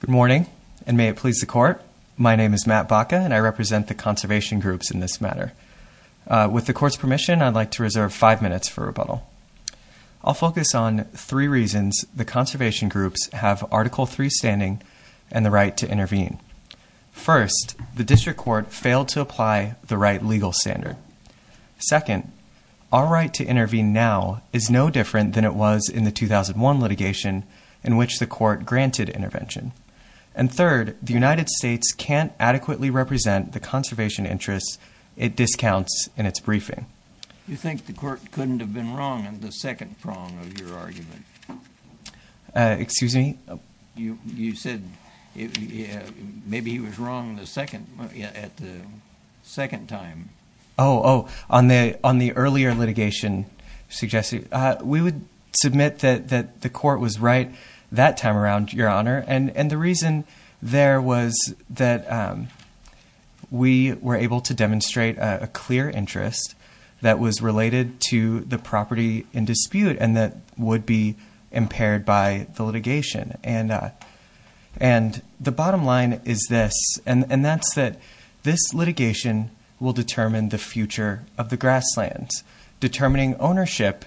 Good morning and may it please the court. My name is Matt Baca and I represent the conservation groups in this matter. With the court's permission, I'd like to reserve five minutes for rebuttal. I'll focus on three reasons the conservation groups have Article 3 standing and the right to intervene. First, the district court failed to apply the right legal standard. Second, our right to intervene now is no different than it was in the 2001 litigation in which the court granted intervention. And third, the United States can't adequately represent the conservation interests it discounts in its briefing. You think the court couldn't have been wrong in the second prong of your argument? Excuse me? You said maybe he was wrong at the second time. Oh, on the earlier litigation, we would submit that the court was right that time around, Your Honor, and the reason there was that we were able to demonstrate a clear interest that was related to the property in dispute and that would be impaired by the litigation. And the bottom line is this, and determining ownership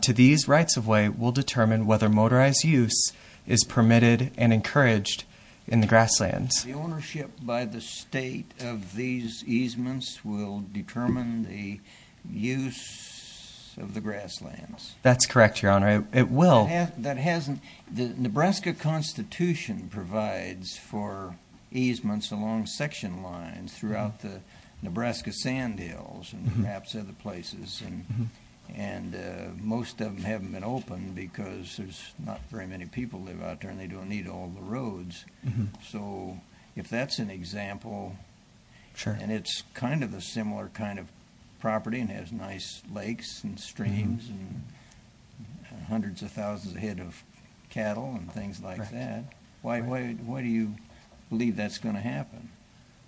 to these rights-of-way will determine whether motorized use is permitted and encouraged in the grasslands. The ownership by the state of these easements will determine the use of the grasslands. That's correct, Your Honor, it will. That hasn't, the Nebraska Constitution provides for easements along section lines throughout the And most of them haven't been opened because there's not very many people live out there and they don't need all the roads. So if that's an example, and it's kind of a similar kind of property and has nice lakes and streams and hundreds of thousands of head of cattle and things like that, why do you believe that's going to happen?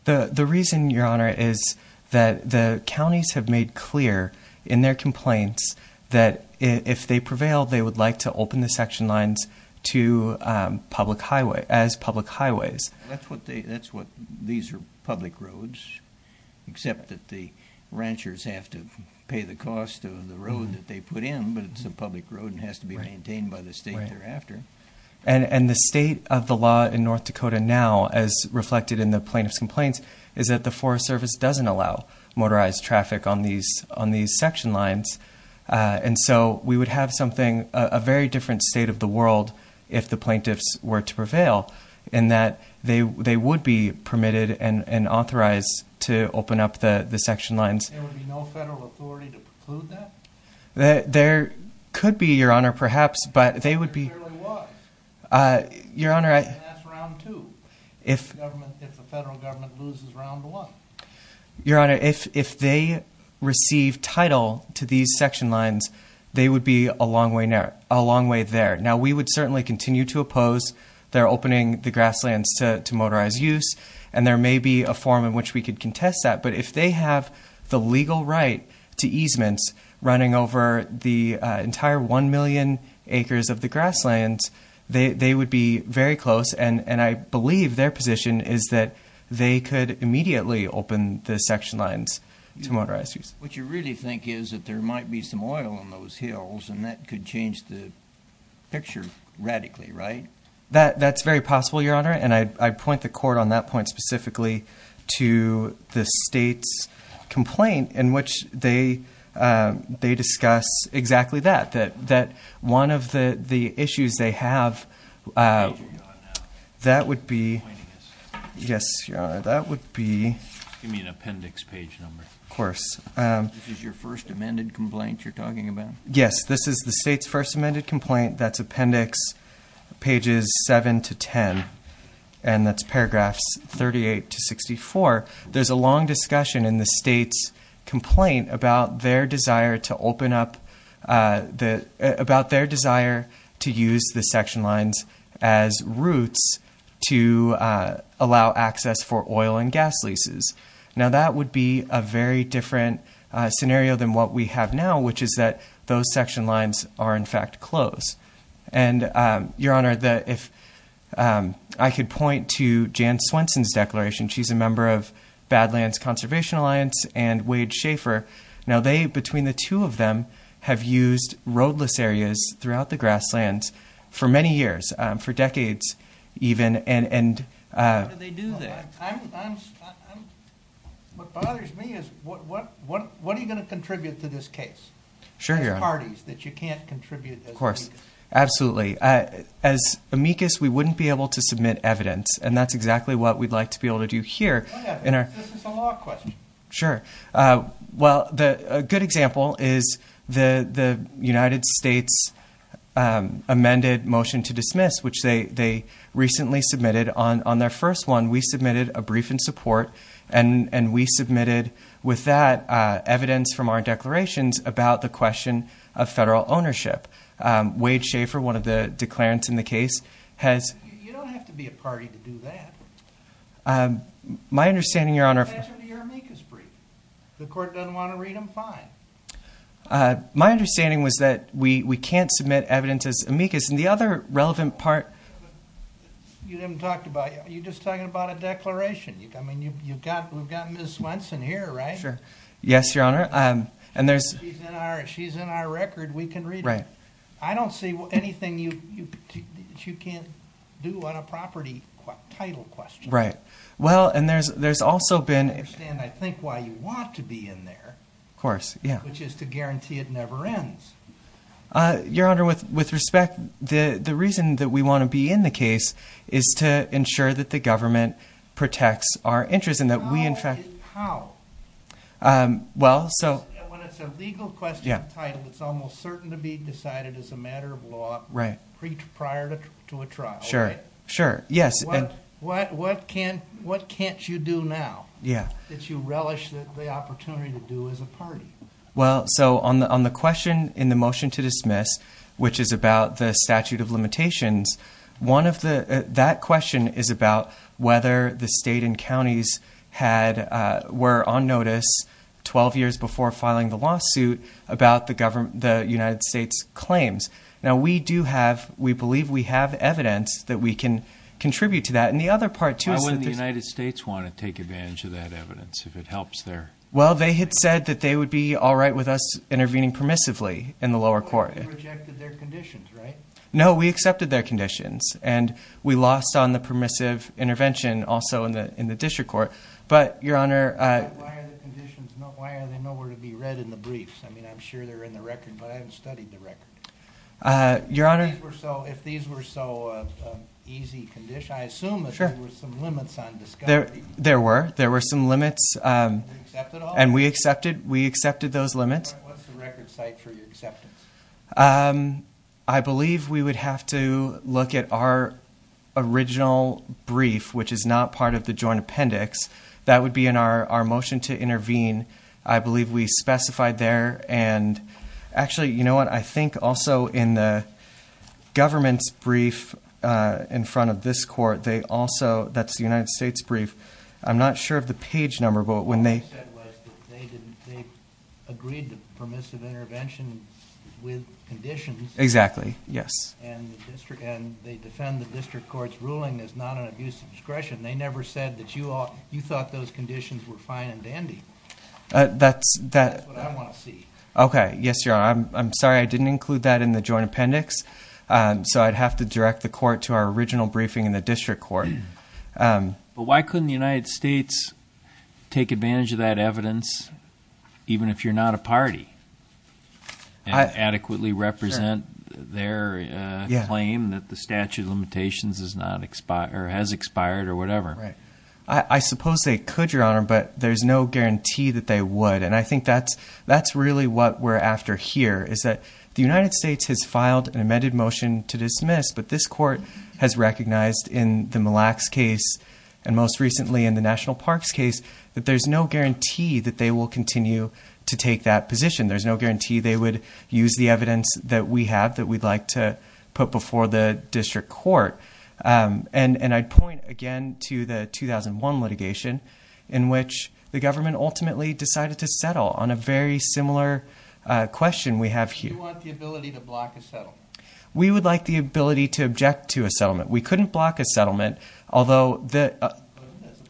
The reason, Your Honor, is that the counties have made clear in their complaints that if they prevail, they would like to open the section lines to public highway, as public highways. That's what they, that's what these are public roads, except that the ranchers have to pay the cost of the road that they put in, but it's a public road and has to be maintained by the state thereafter. And the state of the law in North Dakota now, as reflected in the plaintiff's complaints, is that the Forest Service doesn't allow motorized traffic on these, on these section lines. And so we would have something, a very different state of the world, if the plaintiffs were to prevail, in that they would be permitted and authorized to open up the section lines. There could be, Your Honor, perhaps, but they would be, Your Honor, if they receive title to these section lines, they would be a long way now, a long way there. Now we would certainly continue to oppose their opening the grasslands to motorized use, and there may be a form in which we could contest that, but if they have the legal right to easements running over the entire 1 million acres of the grasslands, they would be very close, and I believe their position is that they could immediately open the section lines to motorized use. What you really think is that there might be some oil in those hills, and that could change the picture radically, right? That's very possible, Your Honor, and I point the court on that point specifically to the state's complaint, in which they discuss exactly that, that one of the issues they have... That would be... Yes, Your Honor, that would be... Give me an appendix page number. Of course. This is your first amended complaint you're talking about? Yes, this is the state's first amended complaint. That's appendix pages 7 to 10, and that's paragraphs 38 to 64. There's a long discussion in the state's complaint about their desire to open up the... About their desire to use the section lines as routes to allow access for oil and gas leases. Now, that would be a very different scenario than what we have now, which is that those section lines are, in fact, closed. And Your Honor, the... If I could point to Jan Swenson's declaration, she's a member of Badlands Conservation Alliance and Wade Schaefer. Now, they, between the two of them, have used roadless areas throughout the grasslands for many years, for decades even, and... How do they do that? What bothers me is, what are you gonna contribute to this case? Sure, Your Honor. There's parties that you can't contribute as amicus. Of course. Absolutely. As amicus, we wouldn't be able to submit evidence, and that's exactly what we'd like to be able to do here in our... This is a law question. Sure. Well, a good example is the United States amended motion to dismiss, which they recently submitted on their first one. We submitted a brief in support, and we submitted with that evidence from our declarations about the question of federal ownership. Wade Schaefer, one of the declarants in the case, has... You don't have to be a party to do that. My understanding, Your Honor... That's under your amicus brief. If the court doesn't wanna read them, fine. My understanding was that we can't submit evidence as amicus. And the other relevant part... You haven't talked about... You're just talking about a declaration. I mean, you've got... We've got Ms. Swenson here, right? Sure. Yes, Your Honor. And there's... She's in our record, we can read it. Right. I don't see anything you can't do on a property title question. Right. Well, and there's also been... I don't understand, I think, why you want to be in there. Of course, yeah. Which is to guarantee it never ends. Your Honor, with respect, the reason that we wanna be in the case is to ensure that the government protects our interests and that we in fact... How? How? Well, so... When it's a legal question of title, it's almost certain to be decided as a matter of law prior to a trial, right? Sure, sure. Yes. What can't you do now? That you relish the opportunity to do as a party? Well, so on the question in the motion to dismiss, which is about the statute of limitations, one of the... That question is about whether the state and counties were on notice 12 years before filing the lawsuit about the government... The United States claims. Now, we do have... We believe we have evidence that we can contribute to that. And the other part is... Why wouldn't the United States wanna take advantage of that evidence if it helps their... Well, they had said that they would be alright with us intervening permissively in the lower court. You rejected their conditions, right? No, we accepted their conditions and we lost on the permissive intervention also in the district court. But, Your Honor... Why are the conditions not... Why are they nowhere to be read in the briefs? I mean, I'm sure they're in the record, but I haven't studied the record. Your Honor... If these were so easy condition... I assume that there were some limits on discovery. There were. There were some limits. And we accepted those limits. What's the record site for your acceptance? I believe we would have to look at our original brief, which is not part of the joint appendix. That would be in our motion to intervene. I believe we specified there and... Actually, you know what? I think also in the government's brief in front of this court, they also... That's the United States brief. I'm not sure of the page number, but when they... What they said was that they agreed to permissive intervention with conditions. Exactly. Yes. And they defend the district court's ruling as not an abuse of discretion. They never said that you thought those conditions were fine and dandy. That's what I wanna see. Okay. Yes, Your Honor. I'm sorry I didn't include that in the joint appendix. So I'd have to direct the court to our original briefing in the district court. But why couldn't the United States take advantage of that evidence, even if you're not a party, and adequately represent their claim that the statute of limitations has expired or whatever? Right. I suppose they could, Your Honor, but there's no guarantee that they would. And I think that's really what we're after here, is that the United States has filed an amended motion to dismiss, but this court has recognized in the Mille Lacs case, and most recently in the National Parks case, that there's no guarantee that they will continue to take that position. There's no guarantee they would use the evidence that we have, that we'd like to put before the district court. And I'd point again to the 2001 litigation, in which the government ultimately decided to settle on a very similar question we have here. You want the ability to block a settlement? We would like the ability to object to a settlement. We couldn't block a settlement, although... As a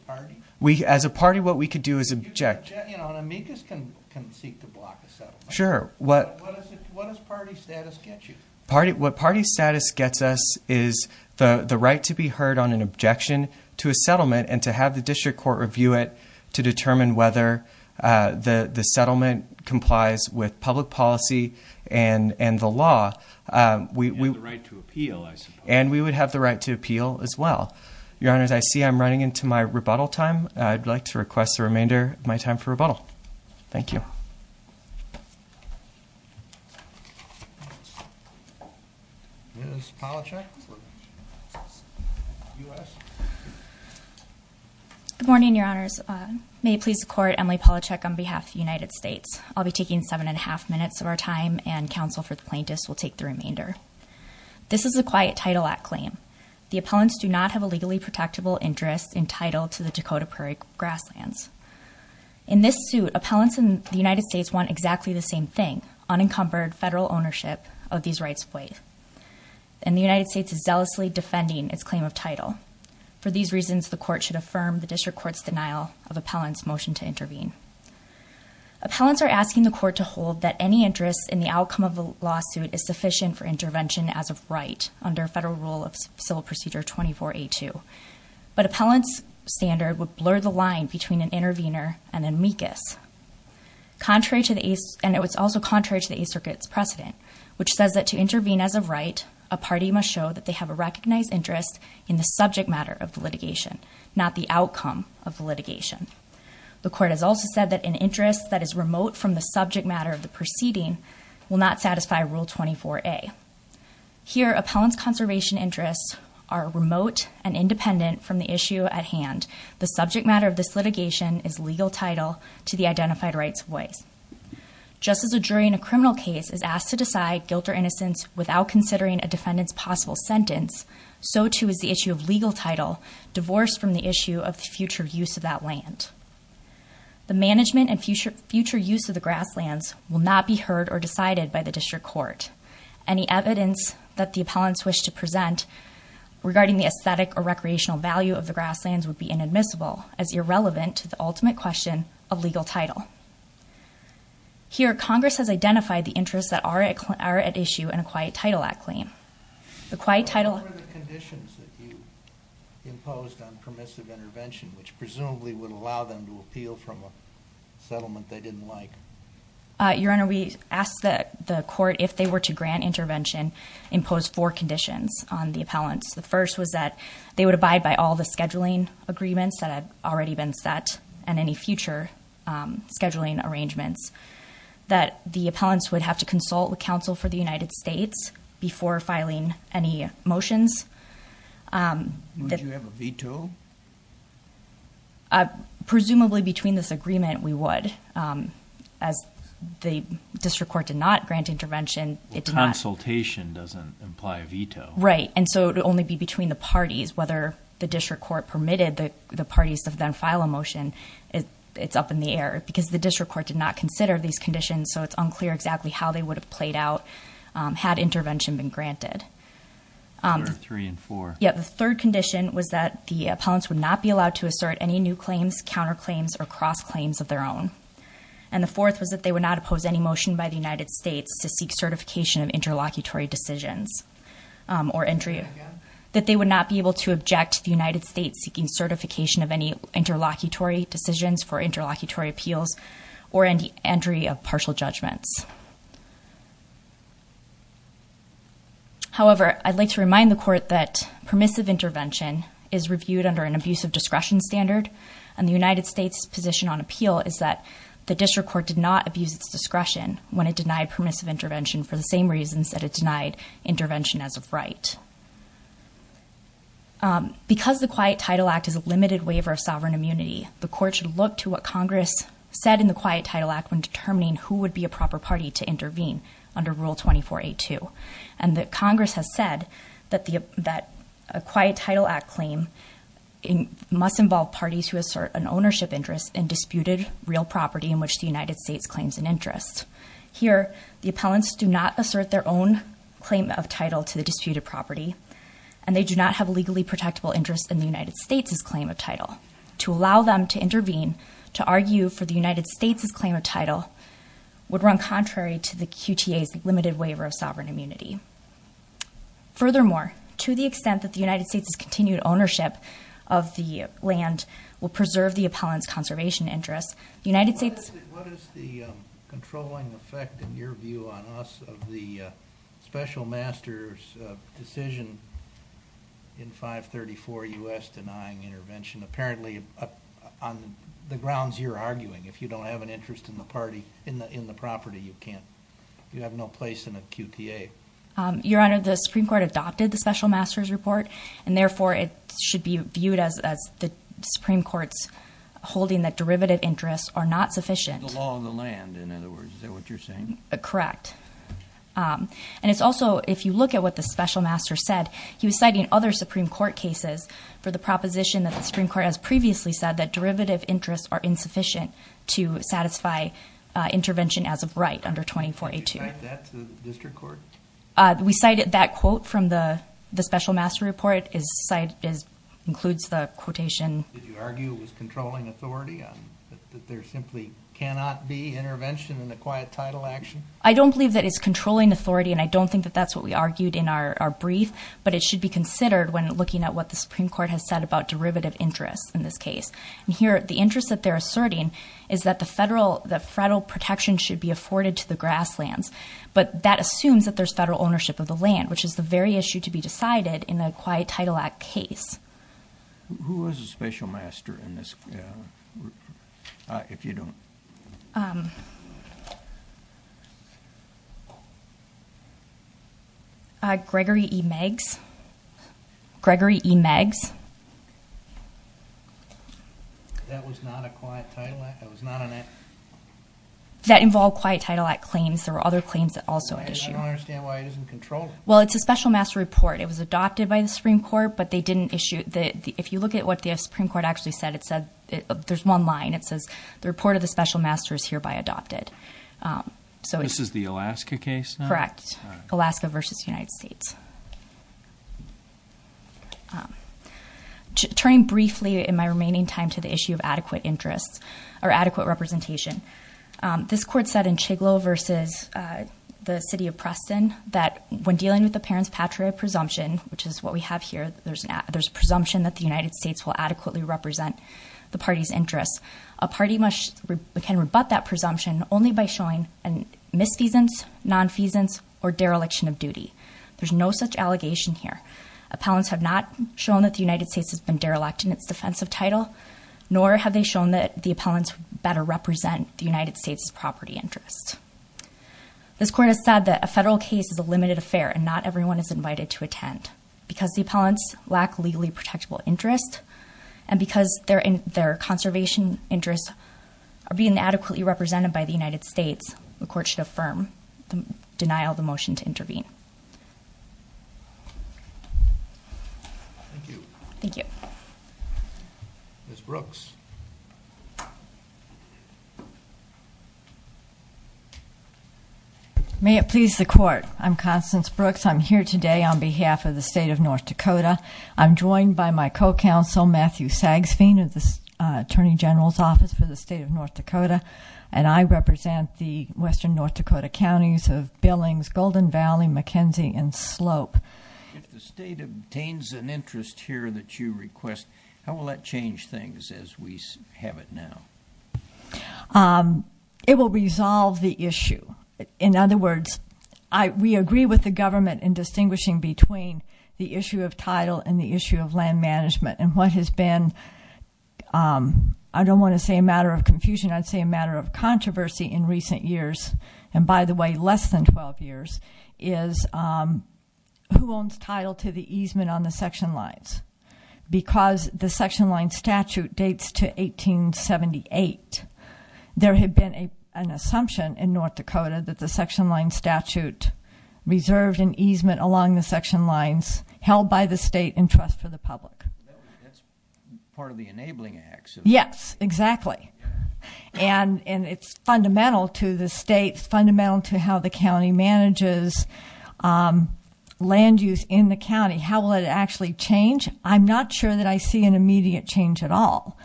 party. As a party, what we could do is object. An amicus can seek to block a settlement. Sure. What does party status get you? What party status gets us is the right to be heard on an objection to a settlement, and to have the district court review it to determine whether the settlement complies with public policy and the law. We... And the right to appeal, I suppose. And we would have the right to appeal as well. Your honors, I see I'm running into my rebuttal time. I'd like to request the remainder of my time for rebuttal. Thank you. Ms. Palachuk. Good morning, your honors. May it please the court, Emily Palachuk on behalf of the United States. I'll be taking seven and a half minutes of our time, and counsel for the plaintiffs will take the remainder. This is a Quiet Title Act claim. The appellants do not have a legally protectable interest entitled to the Dakota Prairie grasslands. In this suit, appellants in the United States want exactly the same thing, unencumbered federal ownership of these rights of way. And the United States is zealously defending its claim of title. For these reasons, the court should affirm the district court's denial of appellant's motion to intervene. Appellants are asking the court to hold that any interest in the outcome of the lawsuit is sufficient for intervention as of right under federal rule of civil procedure 24A2. But appellant's standard would blur the line between an intervener and an amicus. And it was also contrary to the Eighth Circuit's precedent, which says that to intervene as of right, a party must show that they have a recognized interest in the subject matter of the litigation, not the outcome of the litigation. The court has also said that an interest that is remote from the subject matter of the proceeding will not satisfy rule 24A. Here, appellant's conservation interests are remote and independent from the issue at hand. The subject matter of this litigation is legal title to the identified rights of ways. Just as a jury in a criminal case is asked to decide guilt or innocence without considering a defendant's possible sentence, so too is the issue of legal title divorced from the issue of the future use of that land. The management and future use of the grasslands will not be heard or decided by the district court. Any evidence that the appellants wish to of the grasslands would be inadmissible as irrelevant to the ultimate question of legal title. Here, Congress has identified the interests that are at issue in a Quiet Title Act claim. The Quiet Title... What were the conditions that you imposed on permissive intervention, which presumably would allow them to appeal from a settlement they didn't like? Your Honor, we asked the court if they were to grant intervention, impose four conditions on the appellants. The first was that they would abide by all the scheduling agreements that had already been set and any future scheduling arrangements. That the appellants would have to consult with counsel for the United States before filing any motions. Would you have a veto? Presumably, between this agreement, we would. As the district court did not grant intervention, it did not... Consultation doesn't imply a veto. Right. And so it would only be between the parties, whether the district court permitted the parties to then file a motion, it's up in the air. Because the district court did not consider these conditions, so it's unclear exactly how they would have played out had intervention been granted. Three and four. Yeah. The third condition was that the appellants would not be allowed to assert any new claims, counter claims, or cross claims of their own. And the fourth was that they would not oppose any motion by the United States to seek certification of interlocutory decisions or entry... Again. That they would not be able to object to the United States seeking certification of any interlocutory decisions for interlocutory appeals or entry of partial judgments. However, I'd like to remind the court that permissive intervention is reviewed under an abusive discretion standard, and the United States position on appeal is that the district court did not abuse its discretion when it denied permissive intervention for the same reasons that it denied intervention as of right. Because the Quiet Title Act is a limited waiver of sovereign immunity, the court should look to what Congress said in the Quiet Title Act when determining who would be a proper party to intervene under Rule 2482. And that Congress has said that a Quiet Title Act claim must involve parties who assert an ownership interest in disputed real property in which the United States claims an interest. Here, the appellants do not assert their own claim of title to the disputed property, and they do not have a legally protectable interest in the United States' claim of title. To allow them to intervene, to argue for the United States' claim of title would run contrary to the QTA's limited waiver of sovereign immunity. Furthermore, to the extent that the United States' continued ownership of the land will preserve the appellant's conservation interests, the United States... What is the controlling effect, in your view on us, of the Special Master's decision in 534 U.S. denying intervention? Apparently, on the grounds you're arguing, if you don't have an interest in the party, in the property, you can't... You have no place in a QTA. Your Honor, the Supreme Court adopted the Special Master's Report, and therefore it should be viewed as the Supreme Court's holding that derivative interests are not sufficient. The law of the land, in other words. Is that what you're saying? Correct. And it's also, if you look at what the Special Master said, he was citing other Supreme Court cases for the proposition that the Supreme Court has previously said that derivative interests are insufficient to satisfy intervention as of right under 2482. Did you cite that to the District Court? We cited that quote from the Special Master Report is... Includes the quotation... Did you argue it was controlling authority on... That there simply cannot be intervention in the Quiet Title Action? I don't believe that it's controlling authority, and I don't think that that's what we argued in our brief, but it should be considered when looking at what the Supreme Court has said about derivative interests in this case. And here, the interest that they're asserting is that the federal protection should be afforded to the grasslands, but that assumes that there's federal ownership of the land, which is the very issue to be decided in a Quiet Title Act case. Who was the Special Master in this? If you don't... Gregory E. Meggs. Gregory E. Meggs. That was not a Quiet Title Act? That was not an act... That involved Quiet Title Act claims. There were other claims that also had issue. I don't understand why it doesn't control it. Well, it's a Special Master Report. It was adopted by the Supreme Court, but they didn't issue... If you look at what the Supreme Court actually said, it said... There's one line. It says, the report of the Special Master is hereby adopted. So... This is the Alaska case now? Correct. Alaska versus United States. Turning briefly in my remaining time to the issue of adequate interest or adequate representation, this court said in Chiglo versus the City of Preston, that when dealing with Appellant's Patriot Presumption, which is what we have here, there's a presumption that the United States will adequately represent the party's interests. A party must... Can rebut that presumption only by showing a misfeasance, nonfeasance, or dereliction of duty. There's no such allegation here. Appellants have not shown that the United States has been derelict in its defensive title, nor have they shown that the appellants better represent the United States' property interest. This court has said that a federal case is a limited affair, and not everyone is invited to attend. Because the appellants lack legally protectable interest, and because their conservation interests are being adequately represented by the United States, the court should affirm, deny all the motion to intervene. Thank you. Thank you. Ms. Brooks. May it please the court. I'm Constance Brooks. I'm here today on behalf of the State of North Dakota. I'm joined by my co-counsel, Matthew Sagsveen, of the Attorney General's Office for the State of North Dakota, and I represent the Western North Dakota counties of Billings, Golden Valley, McKenzie, and Slope. If the state obtains an interest here that you request, how will that change things as we have it now? It will resolve the issue. In other words, we agree with the government in distinguishing between the issue of title and the issue of land management. And what has been, I don't wanna say a matter of confusion, I'd say a matter of controversy in recent years, and by the way, less than 12 years, is who owns title to the easement on the section lines. Because the section line statute dates to 1878, there had been an assumption in North Dakota that the section line statute reserved an easement along the section lines held by the state in trust for the public. That's part of the enabling acts. Yes, exactly. And it's fundamental to the state, it's fundamental to how the county manages land use in the county. How will it actually change? I'm not sure that I see an immediate change at all.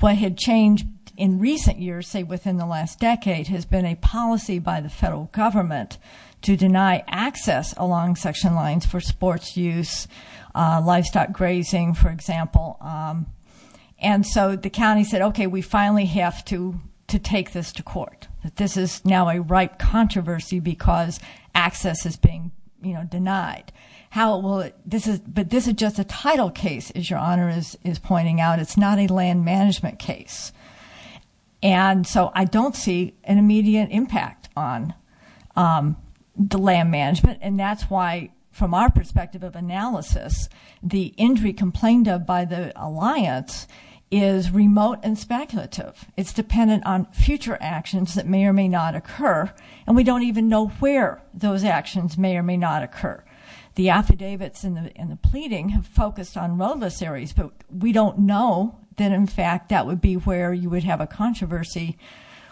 What had changed in recent years, say within the last decade, has been a policy by the federal government to deny access along section lines for sports use, livestock grazing, for example. And so the county said, okay, we finally have to take this to court, that this is now a ripe controversy because access is being denied. But this is just a title case, as your honor is pointing out, it's not a land management case. And so I don't see an immediate impact on the land management, and that's why, from our perspective of analysis, the injury complained of by the alliance is remote and speculative. It's dependent on future actions that may or may not occur, and we don't even know where those actions may or may not occur. The affidavits and the pleading have focused on roadless areas, but we don't know that, in fact, that would be where you would have a controversy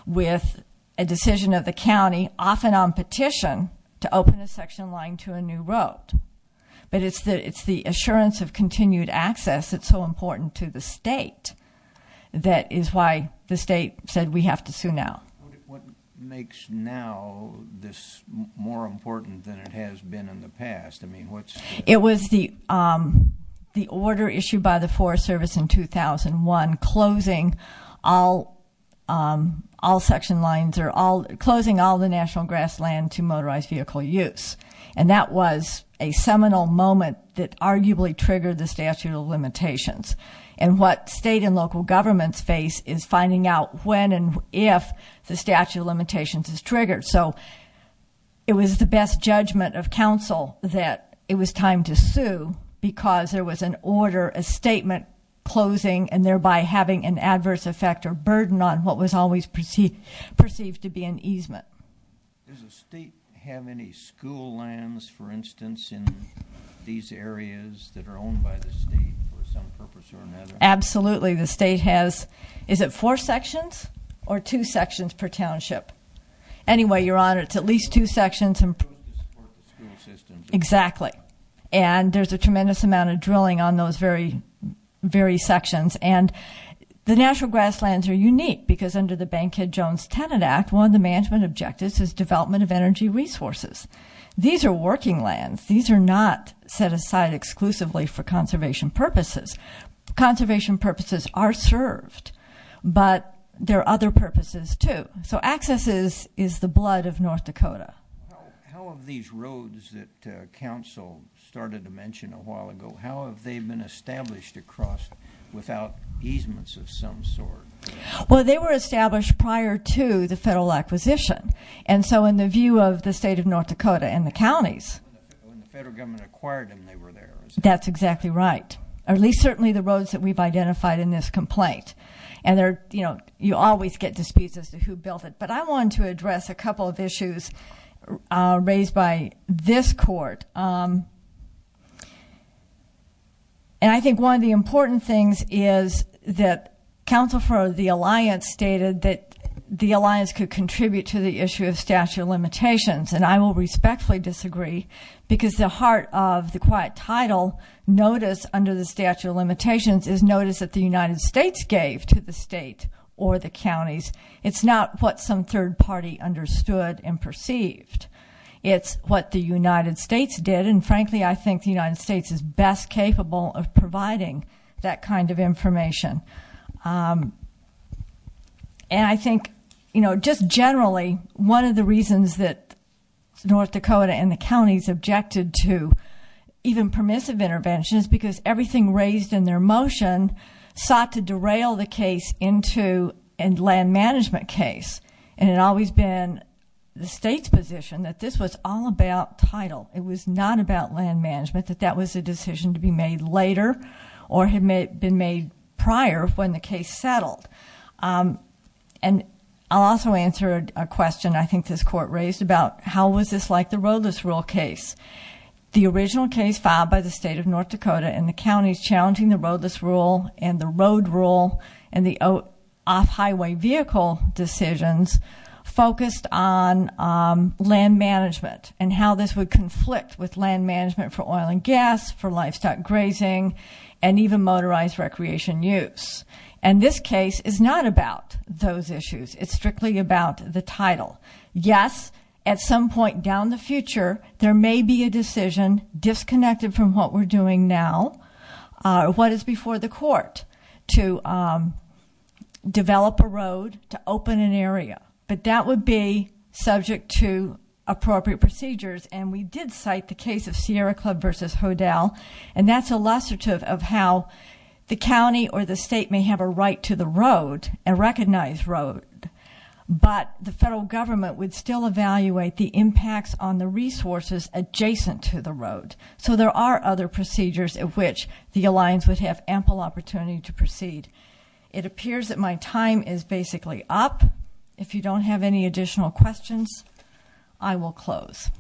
with a decision of the county, often on petition, to open a section line to a new road. But it's the assurance of continued access that's so the state said, we have to sue now. What makes now this more important than it has been in the past? I mean, what's... It was the order issued by the Forest Service in 2001, closing all section lines or closing all the national grassland to motorized vehicle use. And that was a seminal moment that arguably triggered the statute of limitations. And what state and local governments face is finding out when and if the statute of limitations is triggered. So it was the best judgment of council that it was time to sue because there was an order, a statement closing, and thereby having an adverse effect or burden on what was always perceived to be an easement. Does the state have any school lands, for instance, in these areas that are owned by the state for some purpose or another? Absolutely. The state has... Is it four sections or two sections per township? Anyway, Your Honor, it's at least two sections and... To support the school systems. Exactly. And there's a tremendous amount of drilling on those very, very sections. And the natural grasslands are unique because under the Bankhead Jones Tenant Act, one of the management objectives is development of energy resources. These are working lands. These are not set aside exclusively for conservation purposes. Conservation purposes are served, but there are other purposes too. So access is the blood of North Dakota. How have these roads that council started to mention a while ago, how have they been established across without easements of some kind? And so in the view of the state of North Dakota and the counties... When the federal government acquired them, they were there. That's exactly right. Or at least certainly the roads that we've identified in this complaint. And you always get disputes as to who built it. But I wanted to address a couple of issues raised by this court. And I think one of the important things is that counsel for the alliance stated that the alliance could contribute to the issue of statute of limitations. And I will respectfully disagree because the heart of the quiet title notice under the statute of limitations is notice that the United States gave to the state or the counties. It's not what some third party understood and perceived. It's what the United States did. And frankly, I think the United States is best capable of providing that kind of information. And I think just generally, one of the reasons that North Dakota and the counties objected to even permissive intervention is because everything raised in their motion sought to derail the case into a land management case. And it had always been the state's position that this was all about title. It was not about land management, that that was a decision to be made later or had been made prior when the case settled. And I'll also answer a question I think this court raised about how was this like the roadless rule case? The original case filed by the state of North Dakota and the counties challenging the roadless rule and the road rule and the off highway vehicle decisions focused on land management and how this would conflict with land management for oil and gas, for livestock grazing, and even motorized recreation use. And this case is not about those issues. It's strictly about the title. Yes, at some point down the future, there may be a decision disconnected from what we're doing now, what is before the court to develop a road, to open an area, but that would be subject to appropriate procedures. And we did cite the case of Sierra Club versus Hodel, and that's illustrative of how the county or the state may have a right to the road, a recognized road, but the federal government would still evaluate the impacts on the resources adjacent to the road. So there are other procedures at which the alliance would have ample opportunity to proceed. It appears that my time is basically up. If you don't have any additional questions, I will close.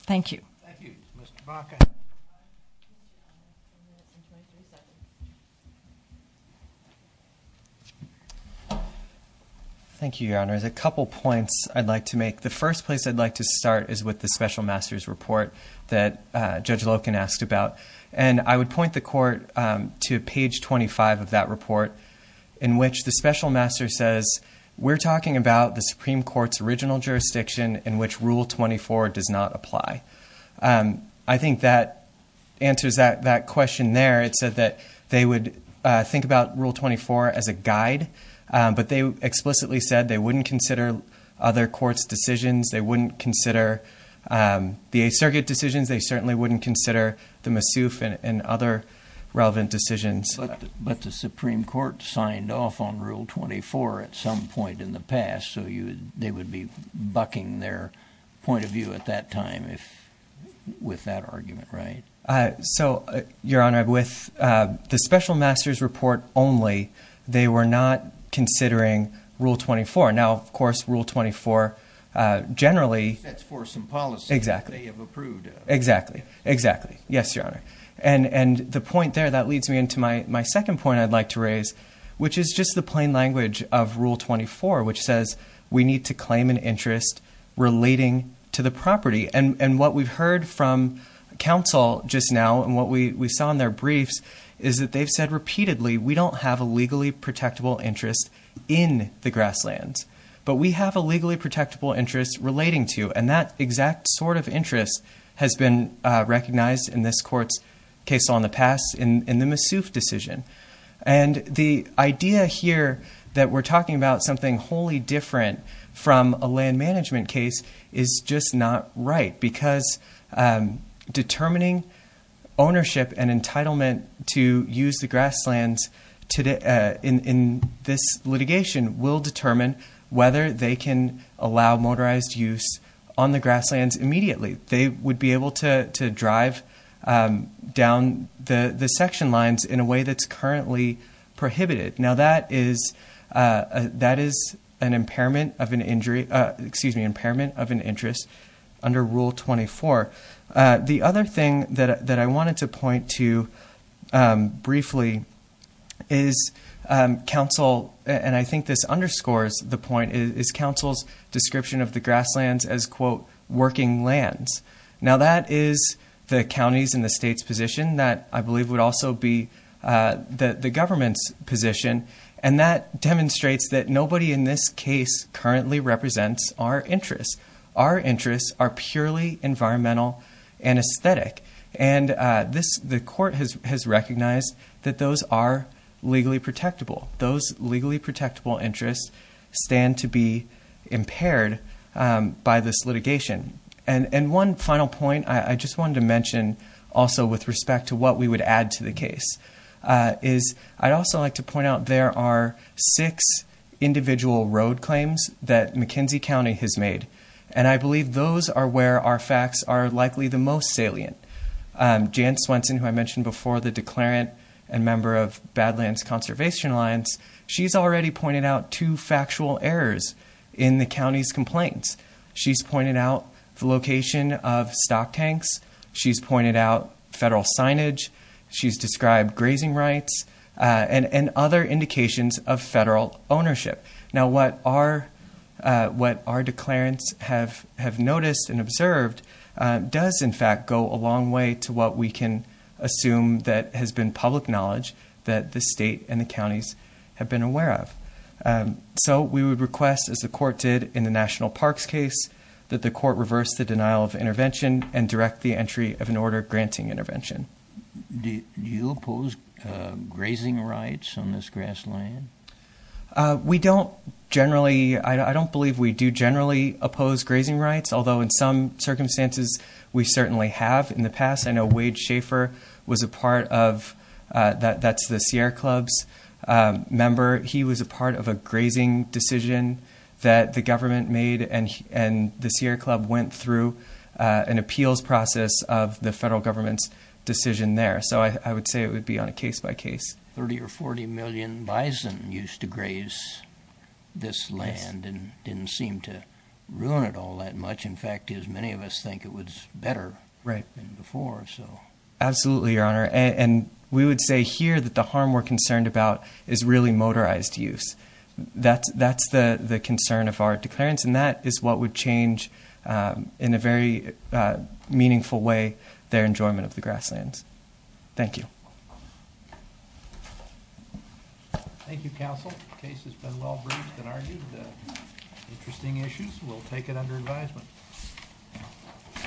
Thank you. Thank you, Mr. Baca. Thank you, Your Honor. There's a couple points I'd like to make. The first place I'd like to start is with the special master's report that Judge Loken asked about. And I would point the court to page 25 of that report, in which the special master says, we're talking about the Supreme Court's original jurisdiction in which Rule 24 does not apply. I think that answers that question there. It said that they would think about Rule 24 as a guide, but they explicitly said they wouldn't consider other courts' decisions, they wouldn't consider the Eighth Circuit decisions, they certainly wouldn't consider the Massouf and other relevant decisions. But the Supreme Court signed off on Rule 24 at some point in the past, so they would be bucking their point of view at that time with that argument, right? So, Your Honor, with the special master's report only, they were not considering Rule 24. Now, of course, Rule 24 generally... That's for some policy... Exactly. They have approved. Exactly. Exactly. Yes, Your Honor. And the point there, that leads me into my question, is just the plain language of Rule 24, which says we need to claim an interest relating to the property. And what we've heard from counsel just now, and what we saw in their briefs, is that they've said repeatedly, we don't have a legally protectable interest in the grasslands, but we have a legally protectable interest relating to. And that exact sort of interest has been recognized in this court's case on the past in the Massouf decision. And the idea here that we're talking about something wholly different from a land management case is just not right, because determining ownership and entitlement to use the grasslands in this litigation will determine whether they can allow motorized use on the grasslands immediately. They would be able to drive down the section lines in a way that's currently prohibited. Now, that is an impairment of an injury... Excuse me, impairment of an interest under Rule 24. The other thing that I wanted to point to briefly is counsel... And I think this underscores the point, is counsel's position on the grasslands as, quote, working lands. Now, that is the county's and the state's position that I believe would also be the government's position. And that demonstrates that nobody in this case currently represents our interests. Our interests are purely environmental and aesthetic. And the court has recognized that those are legally protectable. Those legally protectable interests stand to be impaired by this litigation. And one final point I just wanted to mention also with respect to what we would add to the case, is I'd also like to point out there are six individual road claims that McKinsey County has made. And I believe those are where our facts are likely the most salient. Jan Swenson, who I mentioned before, the declarant and member of Badlands Conservation Alliance, she's already pointed out two factual errors in the county's complaints. She's pointed out the location of stock tanks. She's pointed out federal signage. She's described grazing rights and other indications of federal ownership. Now, what our declarants have noticed and observed does, in fact, go a long way to what we can assume that has been public knowledge that the state and the counties have been aware of. So we would request, as the court did in the National Parks case, that the court reverse the denial of intervention and direct the entry of an order granting intervention. Do you oppose grazing rights on this grassland? We don't generally... I don't believe we do generally oppose grazing rights, although in some circumstances, we certainly have in the past. I know Wade Schaefer was a part of... That's the Sierra Club's member. He was a part of a grazing decision that the government made and the Sierra Club went through an appeals process of the federal government's decision there. So I would say it would be on a case by case. 30 or 40 million bison used to graze this land and didn't seem to ruin it all that much. In fact, as many of us think, it was better than before. Right. Absolutely, Your Honor. And we would say here that the harm we're concerned about is really motorized use. That's the concern of our declarants and that is what would change, in a very meaningful way, their enjoyment of the grasslands. Thank you. Thank you, counsel. The case has been well heard.